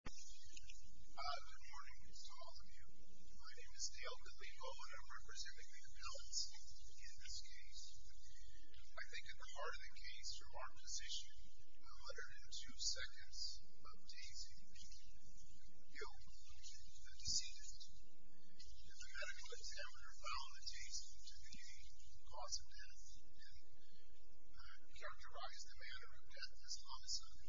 Good morning to all of you. My name is Dale DeLivo and I'm representing the Appellants in this case. I think at the heart of the case, your Honor, this issue of 102 Seconds of Dazing. You, the decedent, if you had a good temper, found the dazing to be a cause of death and characterized the manner of death as homicide.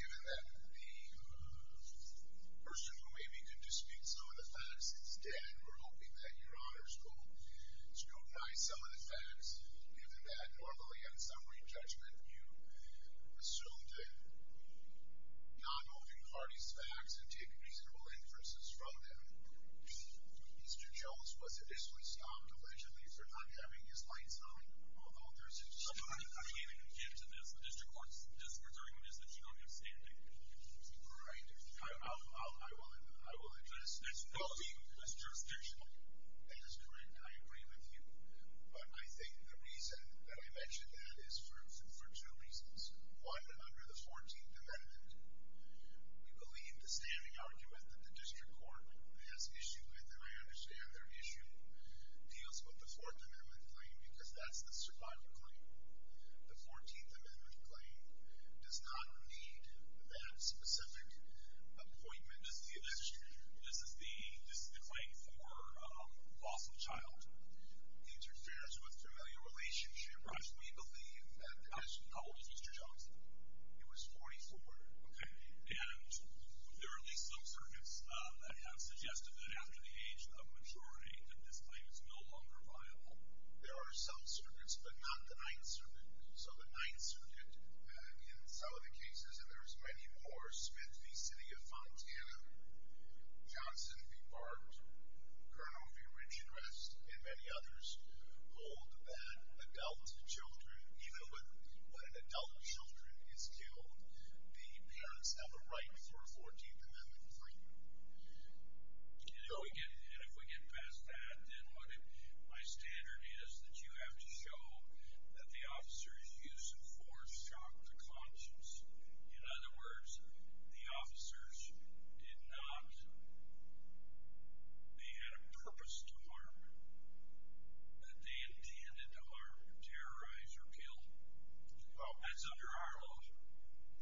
Given that the person who made me do this speech, some of the facts, is dead, we're hoping that your Honor's will scrutinize some of the facts. Given that normally on summary judgment, you assumed non-open parties' facts and take reasonable inferences from them. Mr. Jones, was it this was non-collision? These were not having his lights on? Although there's a... I can't get into this. The District Court's discretion is that you don't have standing. Right. I will address this as jurisdictional. That is correct. I agree with you. But I think the reason that I mention that is for two reasons. One, under the 14th Amendment, we believe the standing argument that the District Court has issue with, and I understand their issue, deals with the Fourth Amendment claim because that's the survivor claim. The 14th Amendment claim does not need that specific appointment. This is the claim for loss of child. It interferes with familial relationship. Right. We believe that... How old is Mr. Jones? He was 44. Okay. And there are at least some circuits that have suggested that after the age of maturity that this claim is no longer viable. There are some circuits, but not the Ninth Circuit. So the Ninth Circuit, in some of the cases, and there's many more, Smith v. City of Fontana, Johnson v. Bart, Colonel v. Ridge and Rest, and many others, hold that adult children, even when an adult children is killed, the parents have a right for a 14th Amendment claim. You know, and if we get past that, then my standard is that you have to show that the officers used force, shock, or conscience. In other words, the officers did not, they had a purpose to harm, but they intended to harm, terrorize, or kill. That's under our law.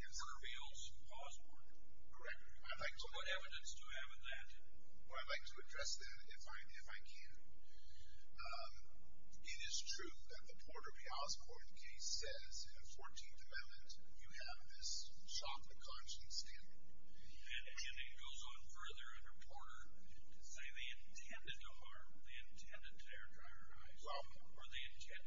It reveals Osborne. Correct. So what evidence do you have in that? Well, I'd like to address that if I can. It is true that the Porter v. Osborne case says in a 14th Amendment you have this shock and conscience standard. And it goes on further under Porter to say they intended to harm, I think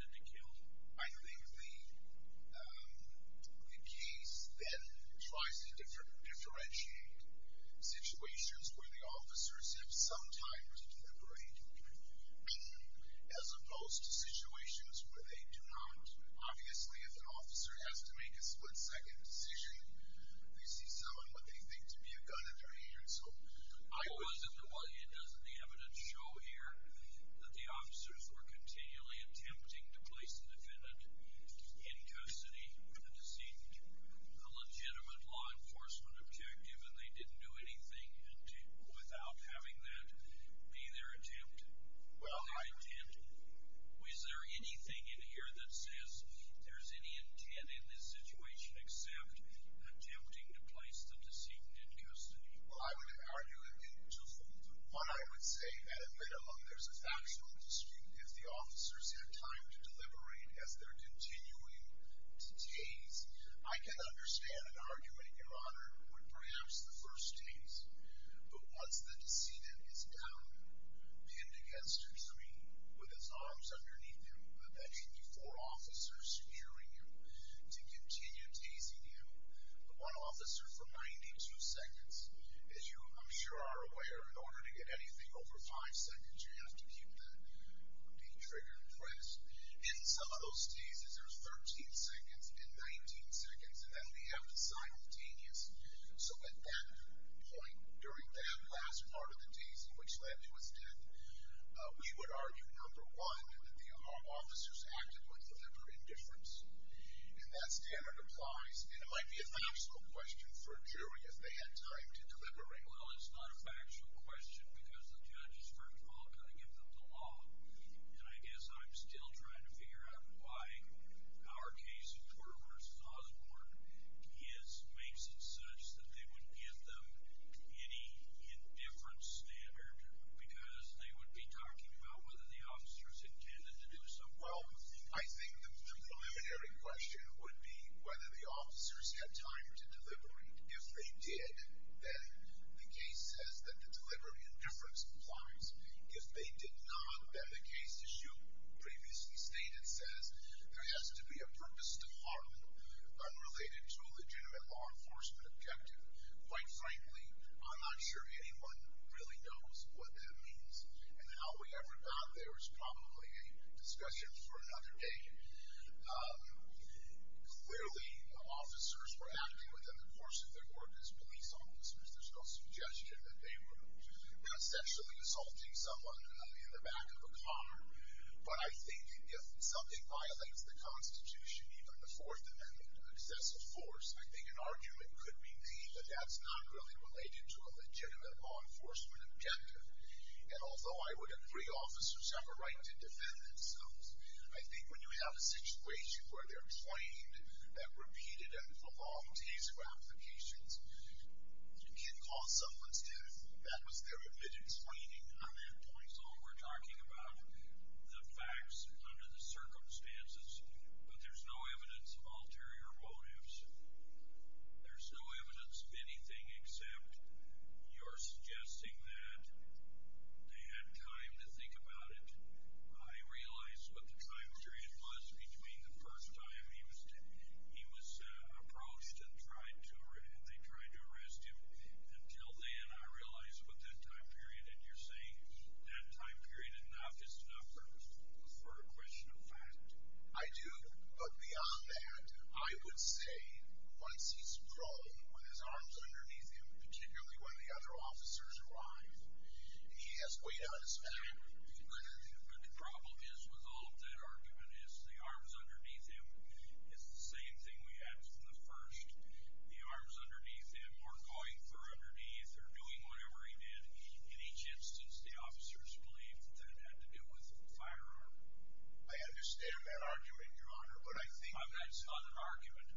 the case then tries to differentiate situations where the officers have some time to deliberate, as opposed to situations where they do not. Obviously, if an officer has to make a split-second decision, they see someone with anything to be a gun in their hand. I wasn't aware. Doesn't the evidence show here that the officers were continually attempting to place the defendant in custody of the decedent? A legitimate law enforcement objective, and they didn't do anything without having that be their attempt, their intent. Is there anything in here that says there's any intent in this situation except attempting to place the decedent in custody? Well, I would argue that just the one I would say, and admit among there's a factional dispute, if the officers had time to deliberate as they're continuing to tase. I can understand an argument, Your Honor, with perhaps the first tase. But once the decedent is down, pinned against a tree, with his arms underneath him, and that should be four officers securing him to continue tasing him, but one officer for 92 seconds. As you, I'm sure, are aware, in order to get anything over five seconds, you have to keep the detrigger pressed. In some of those tases, there's 13 seconds and 19 seconds, and then we have the simultaneous. So at that point, during that last part of the tase in which Levy was dead, we would argue, number one, that the officers acted with deliberate indifference. And that standard applies, and it might be a factual question for a jury if they had time to deliberate. Well, it's not a factual question because the judge is first of all going to give them the law. And I guess I'm still trying to figure out why our case of Porter v. Osborne makes it such that they wouldn't give them any indifference standard because they would be talking about whether the officers intended to do so. Well, I think the preliminary question would be whether the officers had time to deliberate. If they did, then the case says that deliberate indifference applies. If they did not, then the case, as you previously stated, says there has to be a purpose to harm unrelated to a legitimate law enforcement objective. Quite frankly, I'm not sure anyone really knows what that means, and how we ever got there is probably a discussion for another day. Clearly, officers were acting within the course of their work as police officers. There's no suggestion that they were not sexually assaulting someone in the back of a car. But I think if something violates the Constitution, even before it's an excessive force, I think an argument could be made that that's not really related to a legitimate law enforcement objective. And although I would agree officers have a right to defend themselves, I think when you have a situation where they're claimed that repeated and prolonged case ramifications can cause someone's death, that was their admitted explaining on that point. We're talking about the facts under the circumstances, but there's no evidence of ulterior motives. There's no evidence of anything except you're suggesting that they had time to think about it. I realize what the time period was between the first time he was approached and they tried to arrest him until then. I realize what that time period is. You're saying that time period is not just enough for a question of fact. I do, but beyond that, I would say once he's prone with his arms underneath him, particularly when the other officers arrive, he has weight on his back. But the problem is with all of that argument is the arms underneath him. It's the same thing we had from the first. The arms underneath him were going through underneath or doing whatever he did. In each instance, the officers believed that it had to do with a firearm. I understand that argument, Your Honor, but I think— That's not an argument.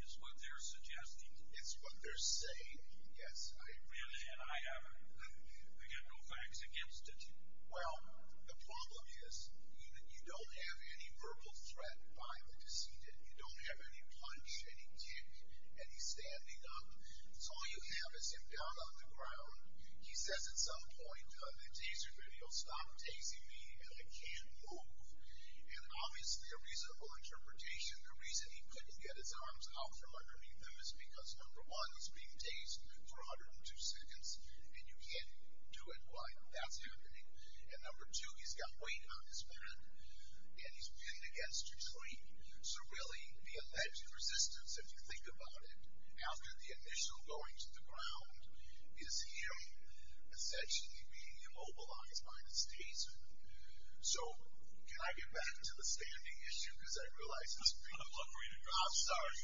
It's what they're suggesting. It's what they're saying, yes. Really, and I have no facts against it. Well, the problem is you don't have any verbal threat by the decedent. You don't have any punch, any kick, any standing up. All you have is him down on the ground. He says at some point in the taser video, Stop tasing me, and I can't move. And obviously a reasonable interpretation, the reason he couldn't get his arms out from underneath him is because, number one, he's being tased for 102 seconds, and you can't do it while that's happening. And number two, he's got weight on his back, and he's pitting against your train. So really, the alleged resistance, if you think about it, after the initial going to the ground, is him essentially being immobilized by the staser. So can I get back to the standing issue? Because I realize this— I'm sorry.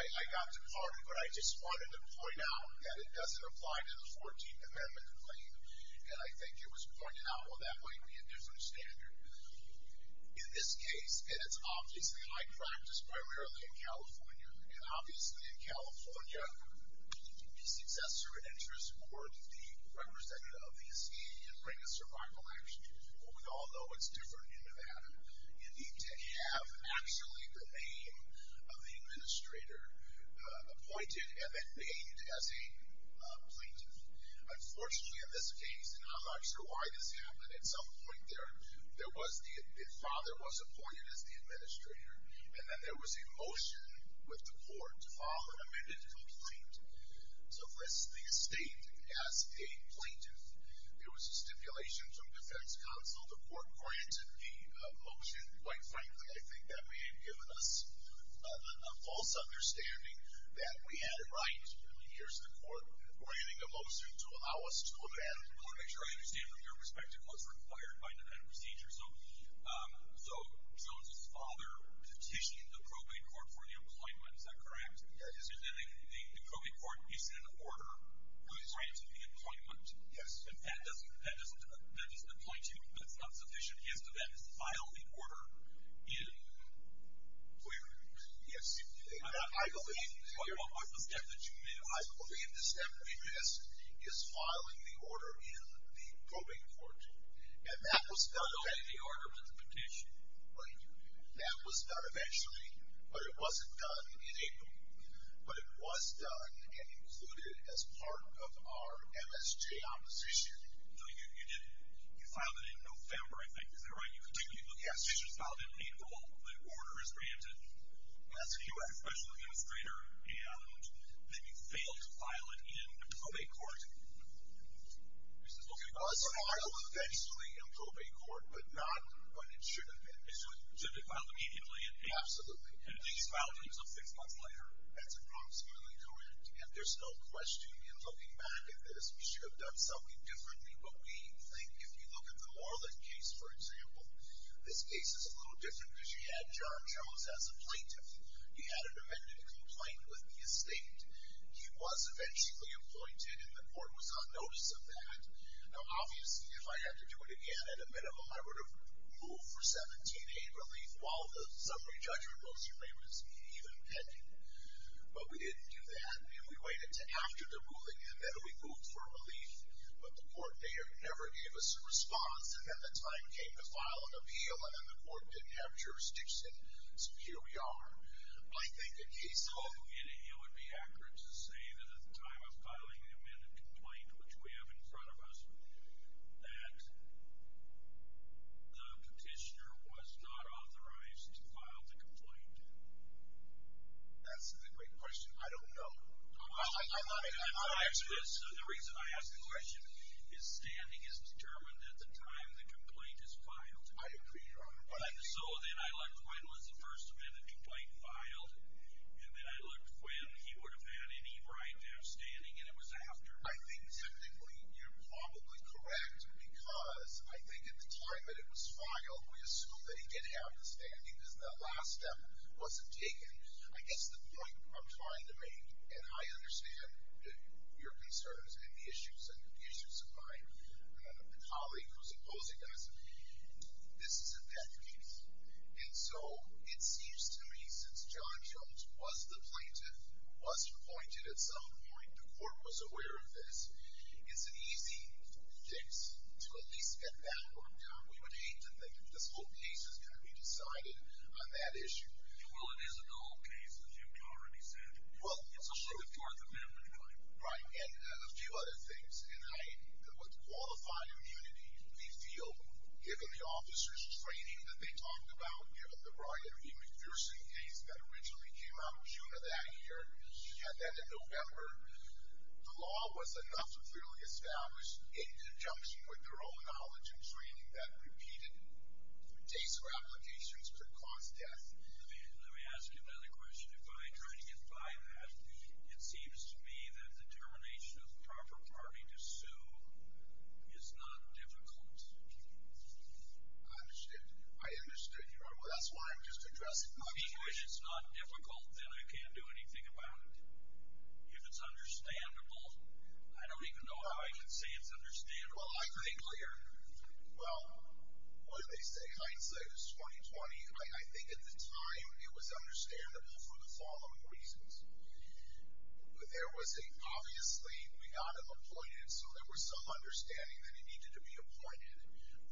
I got departed, but I just wanted to point out that it doesn't apply to the 14th Amendment complaint, and I think it was pointed out, well, that might be a different standard. In this case, and it's obviously high practice, primarily in California, and obviously in California, the successor in interest were the representative of the SCA and bring a survival action. We all know it's different in Nevada. You need to have actually the name of the administrator appointed and then made as a plaintiff. Unfortunately, in this case, and I'm not sure why this happened, at some point, the father was appointed as the administrator, and then there was a motion with the court. The father amended the plaintiff. So for instance, the estate, as a plaintiff, there was a stipulation from defense counsel. The court granted the motion. Quite frankly, I think that may have given us a false understanding that we had it right. Here's the court granting a motion to allow us to abandon the court. I want to make sure I understand from your perspective what's required by Nevada procedure. So Jones's father petitioned the probate court for the employment. Is that correct? Yes. The probate court is in order for his right to the employment. Yes. That doesn't apply to him. That's not sufficient. He has to then file the order in employment. Yes. I believe the step that you made. I believe the step that we missed is filing the order in the probate court. And that was done. Okay. The order was a petition. That was done eventually, but it wasn't done in April. But it was done and included as part of our MSJ opposition. No, you didn't. You filed it in November, I think. Is that right? You continue to look at it. Yes. You just filed it in April. The order is granted. That's correct. Especially the administrator. And then you failed to file it in the probate court. Okay. It was filed eventually in the probate court, but not when it should have been. It should have been filed immediately. Absolutely. And these filings are six months later. That's approximately correct. And there's no question, in looking back at this, we should have done something differently. But we think if you look at the Orlick case, for example, this case is a little different because you had John Jones as a plaintiff. He had an amended complaint with the estate. He was eventually appointed, and the board was on notice of that. Now, obviously, if I had to do it again at a minimum, I would have moved for 17-8 relief while the summary judgment was even pending. But we didn't do that. We waited until after the ruling, and then we moved for relief. But the court never gave us a response. And then the time came to file an appeal, and then the court didn't have jurisdiction. So here we are. I think in case of a meeting, it would be accurate to say that at the time of filing the amended complaint, which we have in front of us, that the petitioner was not authorized to file the complaint. That's a great question. I don't know. The reason I ask the question is standing is determined at the time the complaint is filed. I agree, Your Honor. So then I looked when was the first amendment complaint filed, and then I looked when he would have had any right to have standing, and it was after. I think technically you're probably correct, because I think at the time that it was filed, we assumed that he didn't have the standing, because that last step wasn't taken. I guess the point I'm trying to make, and I understand your concerns and the issues of my colleague who's opposing us, this is a death case. And so it seems to me since John Jones was the plaintiff, was appointed at some point, the court was aware of this, it's an easy case to at least get that worked out. We would hate to think that this whole case is going to be decided on that issue. Well, it is an old case, as you've already said. Well, it's a short amendment claim. Right, and a few other things. And I would qualify immunity, we feel, given the officer's training that they talked about, given the broad and even piercing case that originally came out of June of that year, and then in November, the law was enough to clearly establish, in conjunction with their own knowledge and training, that repeated dates for applications could cause death. Let me ask you another question. If I try to get by that, it seems to me that the termination of the proper party to sue is not difficult. I understand. I understand you. Well, that's why I'm just addressing the issue. If you wish it's not difficult, then I can't do anything about it. If it's understandable, I don't even know how I can say it's understandable. Well, I could be clear. Well, what did they say? I'd say it was 2020. I think at the time, it was understandable for the following reasons. There was a, obviously, we got him appointed, so there was some understanding that he needed to be appointed.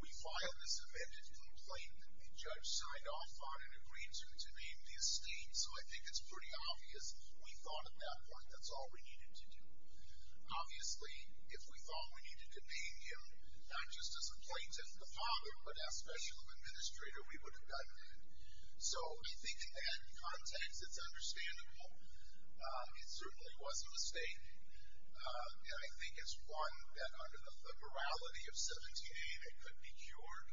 We filed this amended complaint that the judge signed off on and agreed to name the esteemed, so I think it's pretty obvious. We thought, at that point, that's all we needed to do. Obviously, if we thought we needed to name him, not just as a plaintiff, the father, but as special administrator, we would have done that. So, I think, in that context, it's understandable. It certainly was a mistake, and I think it's one that, under the morality of 17A, that could be cured.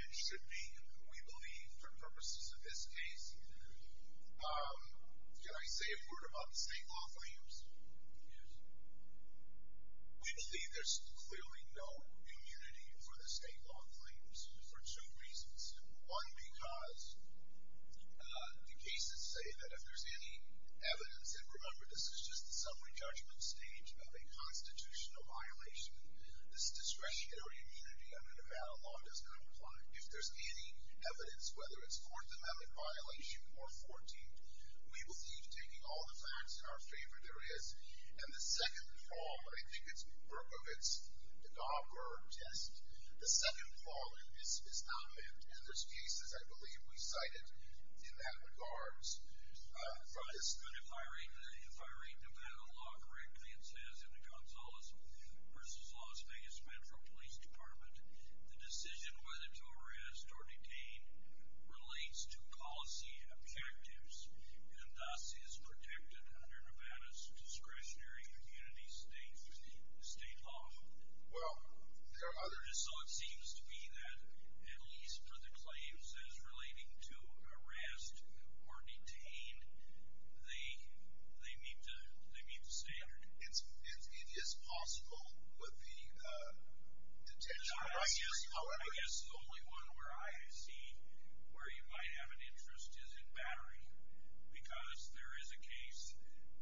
It should be, we believe, for purposes of this case. Can I say a word about the state law claims? Yes. We believe there's clearly no immunity for the state law claims for two reasons. One, because the cases say that if there's any evidence, and remember, this is just the summary judgment stage of a constitutional violation, this discretionary immunity under Nevada law does not apply. If there's any evidence, whether it's a court-demanded violation or 14, we will see, taking all the facts in our favor, there is, and the second fall, I think it's Berkovitz, the Dobler test, the second fall is not meant, and there's cases, I believe, we cited in that regards, but if I read Nevada law correctly, it says, in the Gonzalez v. Las Vegas Metro Police Department, the decision whether to arrest or detain relates to policy objectives and thus is protected under Nevada's discretionary immunity state law. Well, there are others. So it seems to me that, at least for the claims that is relating to arrest or detain, they need to say it. It is possible, but the detention rights, however— I guess the only one where I see where you might have an interest is in battery because there is a case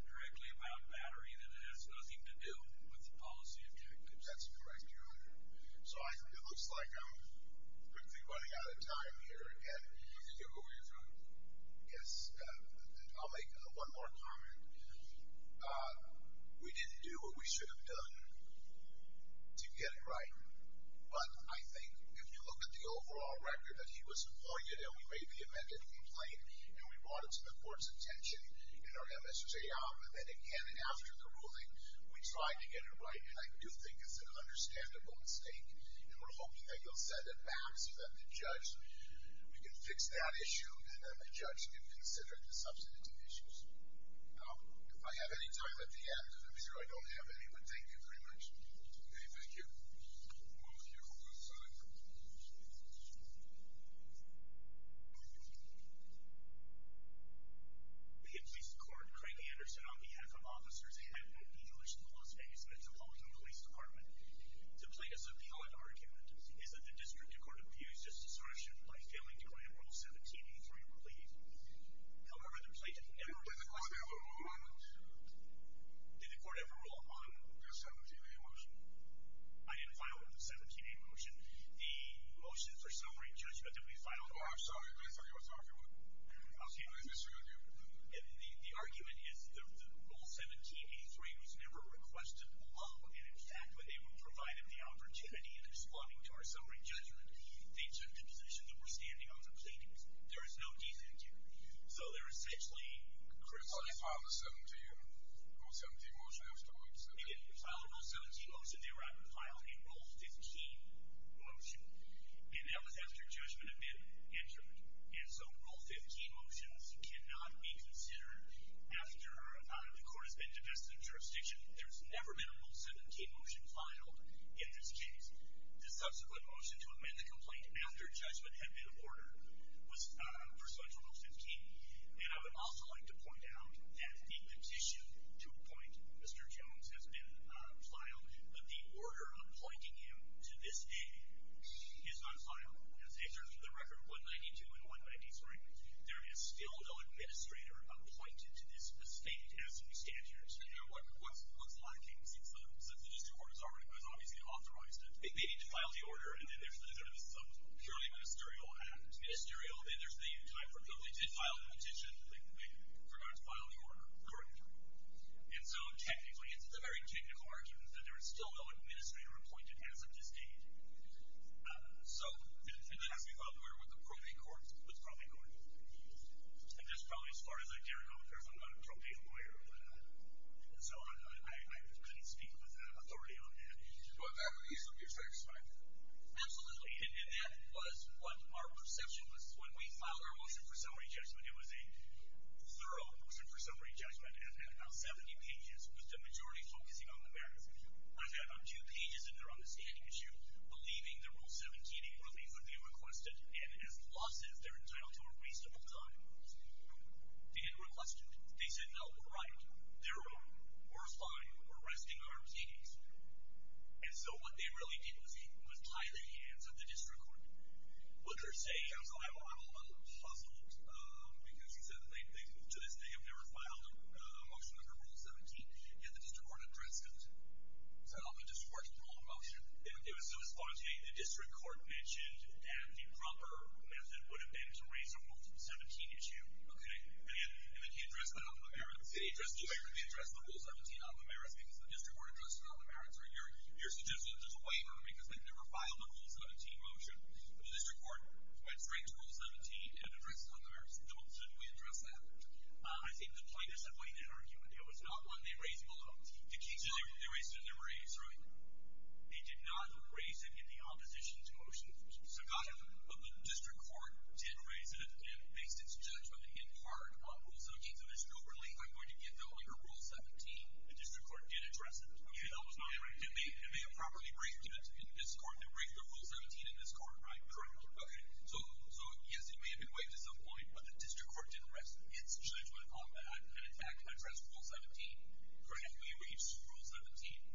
directly about battery that has nothing to do with the policy objectives. That's correct, Your Honor. So it looks like I'm briefly running out of time here, and you can go over your phone. Yes, I'll make one more comment. We didn't do what we should have done to get it right, but I think if you look at the overall record that he was employed in and we made the amended complaint and we brought it to the court's attention and our MSSA offered it again and after the ruling, we tried to get it right, and I do think it's an understandable mistake, and we're hoping that you'll set it back so that the judge can fix that issue and that the judge can consider the substantive issues. Now, if I have any time at the end, I'm sure I don't have any, but thank you very much. Okay, thank you. We'll be here for the rest of the time. The motion for summary judgment that we filed. Oh, I'm sorry. Let me tell you what the argument is. The argument is that Rule 1783 was never requested below, and in fact when they were provided the opportunity in responding to our summary judgment, they took the position that we're standing out of the pleadings. There is no decent jury here. So there is essentially a criticism. Well, they filed a Rule 17 motion after we presented it. They filed a Rule 17 motion. They were able to file a Rule 15 motion, and that was after judgment had been entered. And so Rule 15 motions cannot be considered after the court has been divested of jurisdiction. There's never been a Rule 17 motion filed in this case. The subsequent motion to amend the complaint after judgment had been ordered was pursuant to Rule 15. And I would also like to point out that the petition to appoint Mr. Jones has been filed, but the order appointing him to this day is not filed. In terms of the record 192 and 193, there is still no administrator appointed to this state as of statute. And what's lacking since the district court has obviously authorized it? They need to file the order, and then there's the purely ministerial act. Ministerial, and then there's the time for approval. They did file the petition, but they forgot to file the order. Correct. And so, technically, it's the very technical argument that there is still no administrator appointed as of this date. So, and then as we filed the order with the probate court, it was probably going to move. And that's probably as far as I care to know, because I'm not a probate lawyer. And so I couldn't speak with authority on that. Do I have a reason to be satisfied with that? Absolutely, and that was what our perception was when we filed our motion for summary judgment. It was a thorough motion for summary judgment, and it had about 70 pages, with the majority focusing on the merits. I've got about two pages in there on the standing issue, believing that Rule 17, it really would be requested, and as the law says, they're entitled to a reasonable time. They had it requested. They said, no, we're right. They're wrong. We're fine. We're resting our keys. And so what they really did was tie the hands of the district court. What did her say? I'm a little puzzled, because she said that they've moved to this. They have never filed a motion under Rule 17, yet the district court addressed it. So the district court's rule of motion? It was so to speak. The district court mentioned that the proper method would have been to raise a Rule 17 issue. And then he addressed that on the merits. He addressed the Rule 17 on the merits, because the district court addressed it on the merits. You're suggesting that there's a waiver, because they've never filed a Rule 17 motion. The district court went straight to Rule 17 and addressed it on the merits. So did we address that? I think the plaintiffs have laid that argument. It was not one they raised alone. They raised it in their raise, right? They did not raise it in the opposition's motion. So the district court did raise it and based its judgment in part on Rule 17. So Mr. Overlief, I'm going to get that under Rule 17. The district court did address it. Okay, that was my argument. It may have properly raised it in this court. They raised their Rule 17 in this court, right? Correct. Okay. So, yes, it may have been waived at some point, but the district court didn't raise its judgment on that and, in fact, addressed Rule 17. Correct. We raised Rule 17.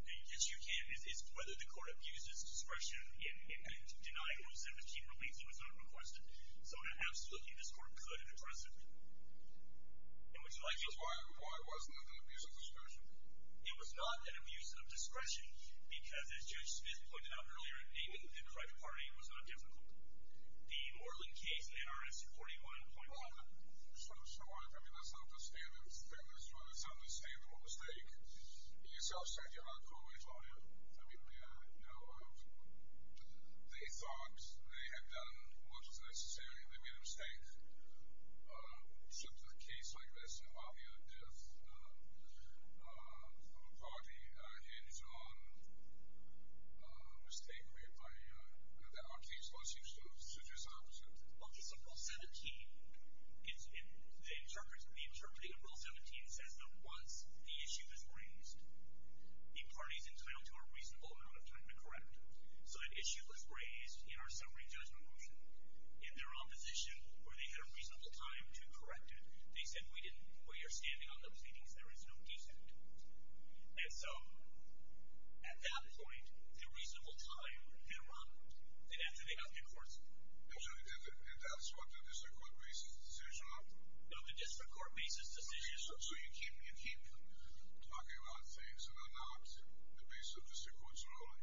The issue here is whether the court abused its discretion in denying Rule 17 relief. It was not requested. So absolutely, this court could have addressed it. And would you like to know why it wasn't? It was not an abuse of discretion because, as Judge Smith pointed out earlier, naming the correct party was not difficult. The Orlin case in NRS 41.1. Well, I mean, that's not to say it was a mistake. You yourself said you're not always on it. I mean, they thought they had done what was necessary, and they made a mistake. So to a case like this, it would probably end on a mistake that our case was used to address the opposite. Okay, so Rule 17, the interpreting of Rule 17 says that once the issue is raised, the party is entitled to a reasonable amount of time to correct. So an issue was raised in our summary judgment motion. In their opposition, where they had a reasonable time to correct it, they said, We are standing on those meetings. There is no decent. And so at that point, the reasonable time had run. And after they got to the courts... And that's what the district court makes its decision on? No, the district court makes its decision. So you keep talking about things, and on the opposite, the base of the district court's ruling,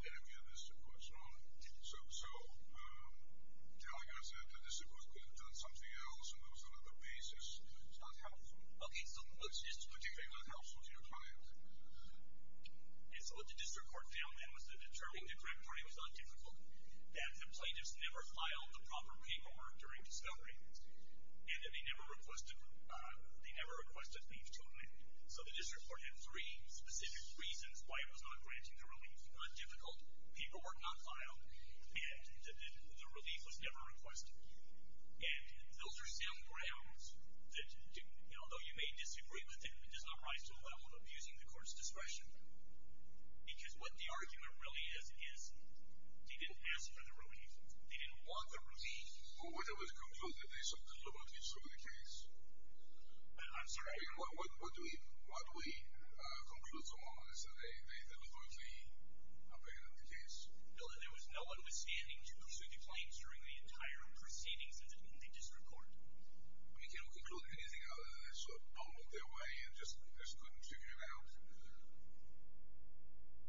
the enemy of the district court's ruling. So you're telling us that the district court had done something else, and there was another basis, and it's not helpful? Okay, so what's this particular thing that helps with your client? And so what the district court found then was that determining the correct wording was not difficult, that the plaintiffs never filed the proper paperwork during discovery, and that they never requested a fee for totaling. So the district court had three specific reasons why it was not granting a relief. One, it was not difficult. People were not filed. And the relief was never requested. And those are still grounds that, although you may disagree with it, it does not rise to the level of abusing the court's discretion. Because what the argument really is, is they didn't ask for the relief. They didn't want the relief. Well, what I would conclude, that there's something about the discovery case. I'm sorry? What we conclude so far is that they deliberately abandoned the case. No, there was no understanding to pursue the claims during the entire proceedings at the district court. We can't conclude anything other than they sort of pulled it their way and just couldn't figure it out?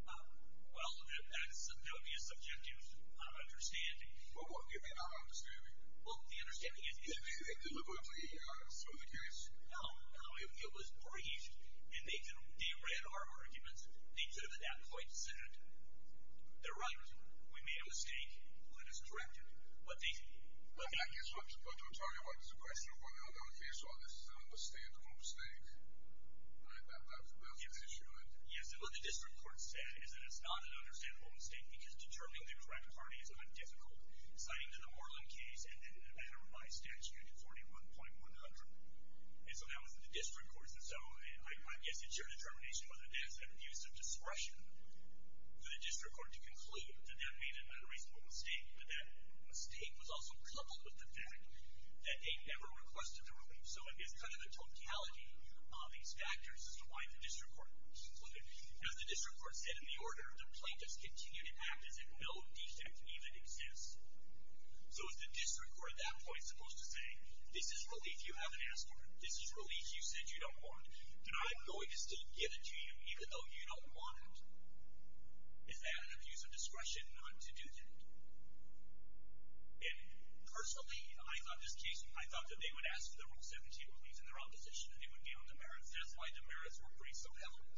Well, that would be a subjective understanding. Well, what? Do you think they're not understanding? Well, the understanding is, yes. Do you think they deliberately threw the case? No, no, it was briefed. And they read our arguments. They could have at that point said, they're right. We made a mistake. Let us correct it. But I guess what I'm supposed to be talking about is the question of whether or not the other case on this is an understandable mistake. And I bet that's where the issue is. Yes, and what the district court said is that it's not an understandable mistake because determining the correct party is a bit difficult. Citing the Moreland case and then the matter by statute at 41.100. And so that was what the district court said. So I guess it's your determination, whether or not it's an abuse of discretion for the district court to conclude that that may have been an unreasonable mistake. But that mistake was also coupled with the fact that they never requested a relief. So it's kind of the totality of these factors as to why the district court was looking. Now, the district court said in the order the plaintiffs continue to act as if no defect even exists. So is the district court at that point supposed to say, this is relief you haven't asked for. This is relief you said you don't want. And I'm going to still give it to you even though you don't want it. Is that an abuse of discretion not to do that? And personally, I thought this case, I thought that they would ask for the Rule 17 relief in their opposition and they would be on demerits. That's why demerits were braced so heavily.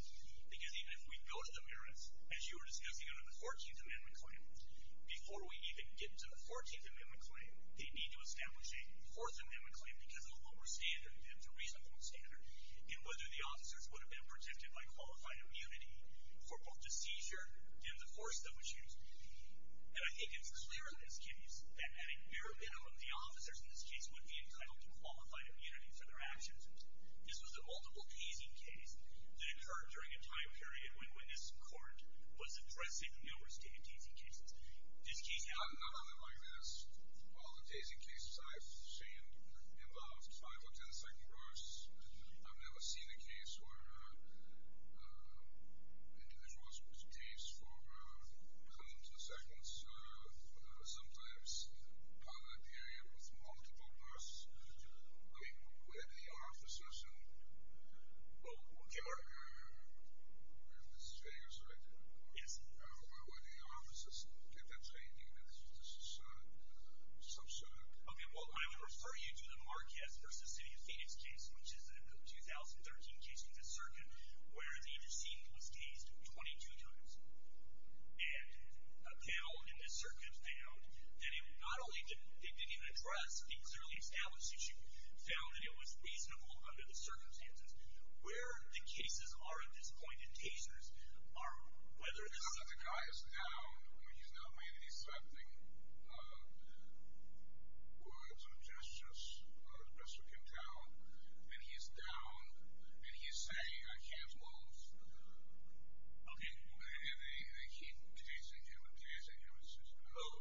Because if we go to demerits, as you were discussing under the 14th Amendment claim, before we even get to the 14th Amendment claim, they need to establish a 4th Amendment claim because of a lower standard, and it's a reasonable standard, in whether the officers would have been protected by qualified immunity for both the seizure and the force that was used. And I think it's clear in this case that at a bare minimum, the officers in this case would be entitled to qualified immunity for their actions. This was a multiple-tasing case that occurred during a time period when this court was addressing numerous day-tasing cases. I'm not on the right list. All the day-tasing cases I've seen involved 5 or 10-second bursts. I've never seen a case where individuals were tased for hundreds of seconds. Sometimes, probably a period with multiple bursts. I mean, where the officers and... Oh, okay, all right. Ms. Chayes, right? Yes. Where the officers kept on saying, you know, this is some sort of... Okay, well, I would refer you to the Marquez v. City of Phoenix case, which is the 2013 case in this circuit where the interceding was tased 22 times. And now, in this circuit, they found that it not only didn't address the clearly established issue, found that it was reasonable under the circumstances where the cases are of this point in tasers are whether or not the guy is down or he's not making these threatening words or gestures or the pressure came down, and he's down and he's saying, I can't move. Okay. And they keep tasing him and tasing him. Oh,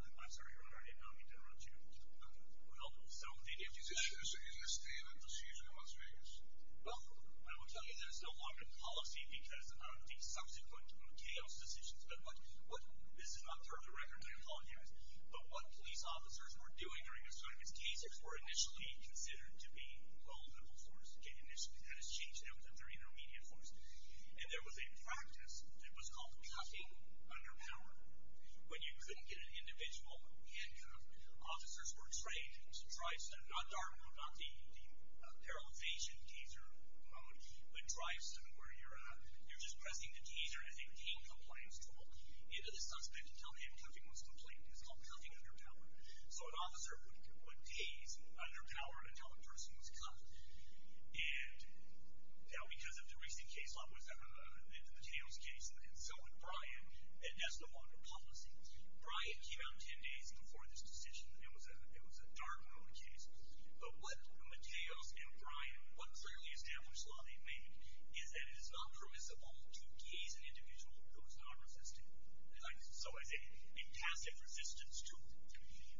I'm sorry. I don't mean to interrupt you. Well, so did you... Is this still a procedure in Las Vegas? Well, I will tell you, there's no longer policy because of the subsequent chaos decisions. But this is not part of the record. I apologize. But what police officers were doing during this time as tasers were initially considered to be vulnerable forces. Initially, that has changed now that they're intermediate forces. And there was a practice that was called cutting under power. When you couldn't get an individual handcuffed, officers were trained to try... Not dark mode, not the paralyzation taser mode, but drives them where you're at. You're just pressing the taser as a pain compliance tool into the suspect until the handcuffing was complete. It's called cutting under power. So an officer would tase under power until a person was caught. And now, because of the recent case law, it was the Taylor's case and so was Bryant, and that's no longer policy. Bryant came out 10 days before this decision. It was a dark mode case. But what Mateos and Bryant, what clearly established law they made is that it is not permissible to tase an individual who is non-resistant. So it's a passive resistance tool.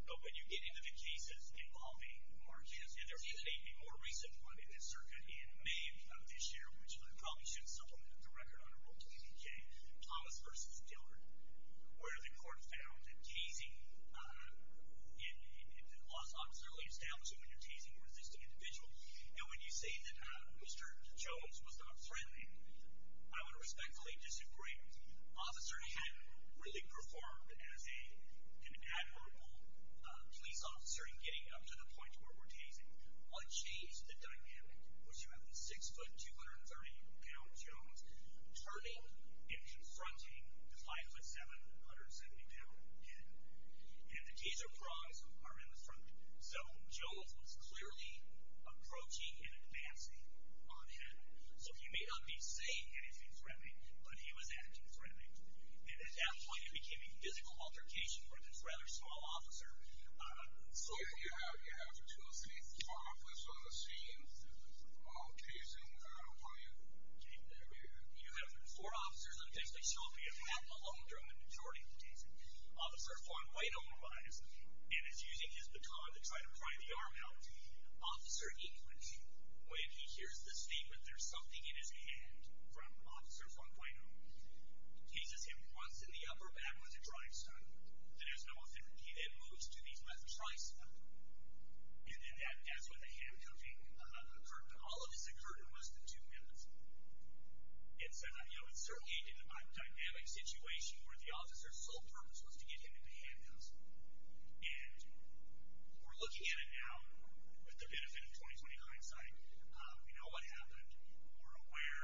But when you get into the cases involving Marquez, and there was a more recent one in the circuit in May of this year, which I probably shouldn't supplement the record on, I wrote to APK, Thomas v. Taylor, where the court found that tasing in laws obviously establishes when you're tasing a resistant individual. And when you say that Mr. Jones was not threatening, I would respectfully disagree. Officers hadn't really performed as an admirable police officer in getting up to the point where we're tasing. What changed the dynamic was you have a 6-foot, 230-pound Jones turning and confronting the 5'7", 172-pound hitter. And the taser frogs are in the front. So Jones was clearly approaching and advancing on him. So he may not be saying anything threatening, but he was acting threatening. And at that point, it became a physical altercation for this rather small officer. So... Yeah, you have the two of them on the scene, and the officer looks like, oh, taser, how are you? And you have four officers, it looks like she'll be a half alone during the majority of the tasing. Officer Fong-Wai-No behind us, and is using his baton to try to pry the arm out. Officer Inquish, when he hears this statement, there's something in his hand from Officer Fong-Wai-No, teases him once in the upper back with a drive stone. There's no affinity that moves to these methods, And then that's when the hand-hugging occurred, but all of this occurred in less than two minutes. It's certainly a dynamic situation where the officer's sole purpose was to get him into hand-hugs. And we're looking at it now with the benefit of 20-29 sight. We know what happened. We're aware,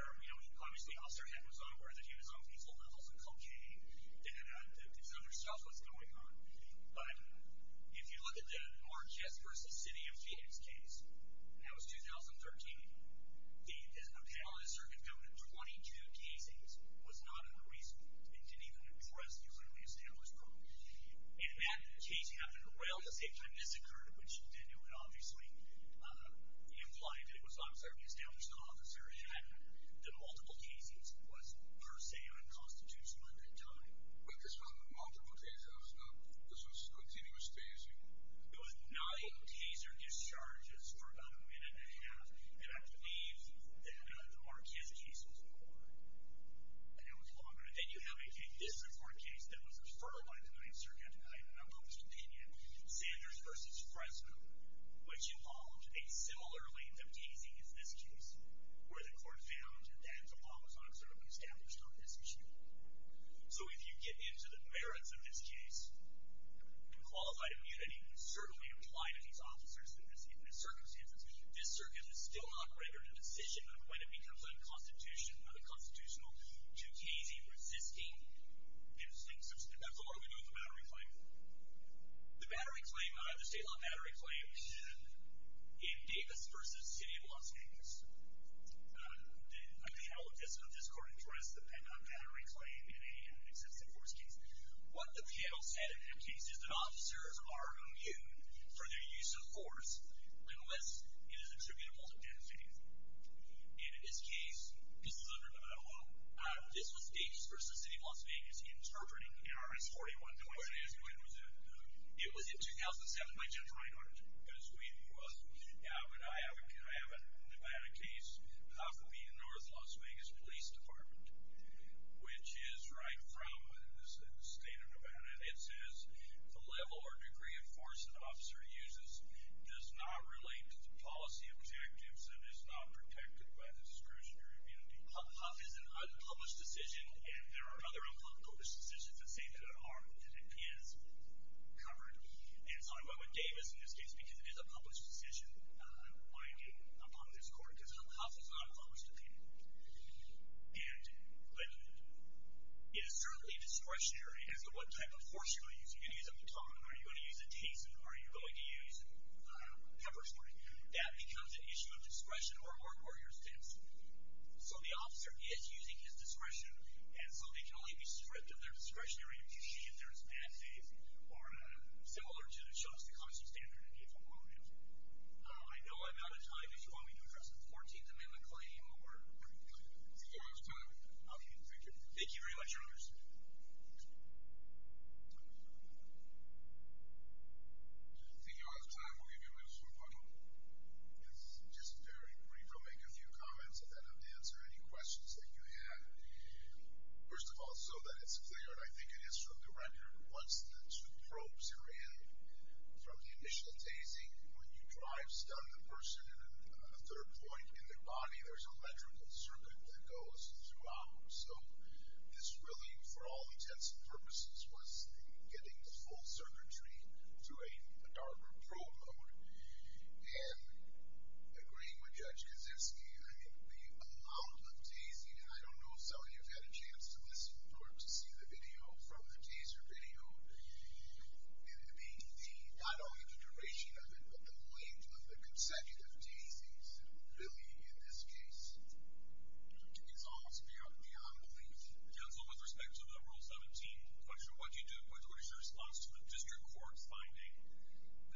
obviously Officer Head was unaware that he was on lethal levels of cocaine. And so there's stuff that's going on. But if you look at the Mark Jespers' City of Phoenix case, that was 2013. The appellate officer had done 22 tasings, was not unreasonable, and didn't even impress the early establishment. And the fact that the tasing happened around the same time this occurred, which he did do it, obviously, implied that it was observed the establishment officer had done multiple tasings, was, per se, unconstitutional at that time. But this wasn't multiple tasings. This was continuous tasing. It was nine taser discharges for about a minute and a half. And I believe that the Mark Jespers' case was one. And it was longer. Then you have a district court case that was referred by the 9th Circuit. I have an unpublished opinion. Sanders v. Fresno, which involved a similar length of tasing as this case, where the court found that the law was not observably established on this issue. So if you get into the merits of this case, and qualified opinion, and you can certainly imply to these officers that in this circumstance, this circuit has still not rendered a decision on when it becomes unconstitutional, unconstitutional to tasing, resisting. And that's a long way to go in the battery claim. The battery claim, the state law battery claim, in Davis v. City of Los Angeles, the appellate district court interest does depend on battery claim in an excessive force case. What the panel said in that case is that officers are immune from their use of force, unless it is attributable to benefiting them. And in this case, this was Davis v. City of Las Vegas, interpreting in RS-41. It was in 2007 by Jennifer Reinhart, because we were, I have a case, possibly in North Las Vegas Police Department, which is right from the state of Nevada, and it says, the level or degree of force an officer uses does not relate to the policy objectives and is not protected by the discretionary immunity. Huff is an unpublished decision, and there are other unpublished decisions that say that it is covered. And so I went with Davis in this case because it is a published decision by a public court, because Huff is an unpublished opinion. And it is certainly discretionary as to what type of force you're going to use. You're going to use a baton, or you're going to use a taser, or you're going to use pepper spray. That becomes an issue of discretion, or your stance. So the officer is using his discretion, and so they can only be stripped of their discretionary immunity if there is bad faith, or similar to the Chauce, the Constant Standard, and the Affordable Housing Act. I know I'm out of time. If you want me to address the 14th Amendment claim or anything like that, thank you for your time. Thank you. Thank you very much, Your Honor. Thank you all for your time. We'll give you a minute or so to talk. It's just very brief. I'll make a few comments, and then I'll answer any questions that you have. First of all, so that it's clear, and I think it is from the record, once the two probes are in, from the initial tasing, when you drive, stun the person on the third point in their body, there's an electrical circuit that goes throughout. So this really, for all intents and purposes, was getting full circuitry to a darker probe mode, and agreeing with Judge Kaczynski, I think we allowed the tasing, and I don't know, Sally, if you've had a chance to listen or to see the video from the taser video, and it being not only the duration of it, but the length of the consecutive tasings, really, in this case, is almost beyond belief. Counsel, with respect to the Rule 17 question, what did you do? What is your response to the district court's finding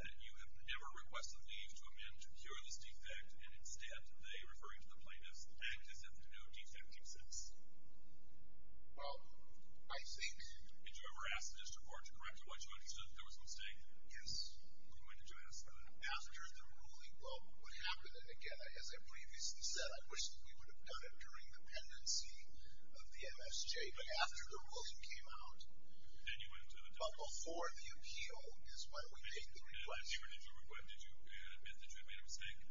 that you have never requested leave to a man to cure this defect, and instead, they, referring to the plaintiff's act, has had no defecting since? Well, I think... Did you ever ask the district court to correct what you understood, that there was a mistake? Yes. When did you ask? After the ruling, well, what happened, again, as I previously said, I wish that we would have done it during the pendency of the MSJ, but after the ruling came out. Then you went to the district court. But before the appeal, is why we made the request. When did you admit that you made a mistake?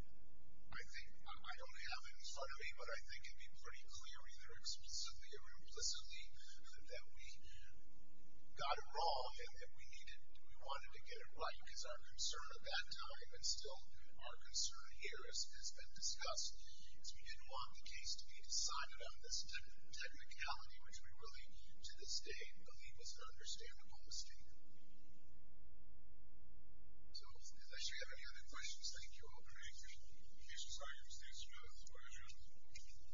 I think, I don't have it in front of me, but I think it'd be pretty clear, either explicitly or implicitly, that we got it wrong, and we needed, we wanted to get it right, because our concern at that time, and still our concern here, as has been discussed, is we didn't want the case to be decided on this technicality, which we really, to this day, believe was an understandable mistake. So, unless you have any other questions, thank you all very much. Mr. Sires, thanks for joining us.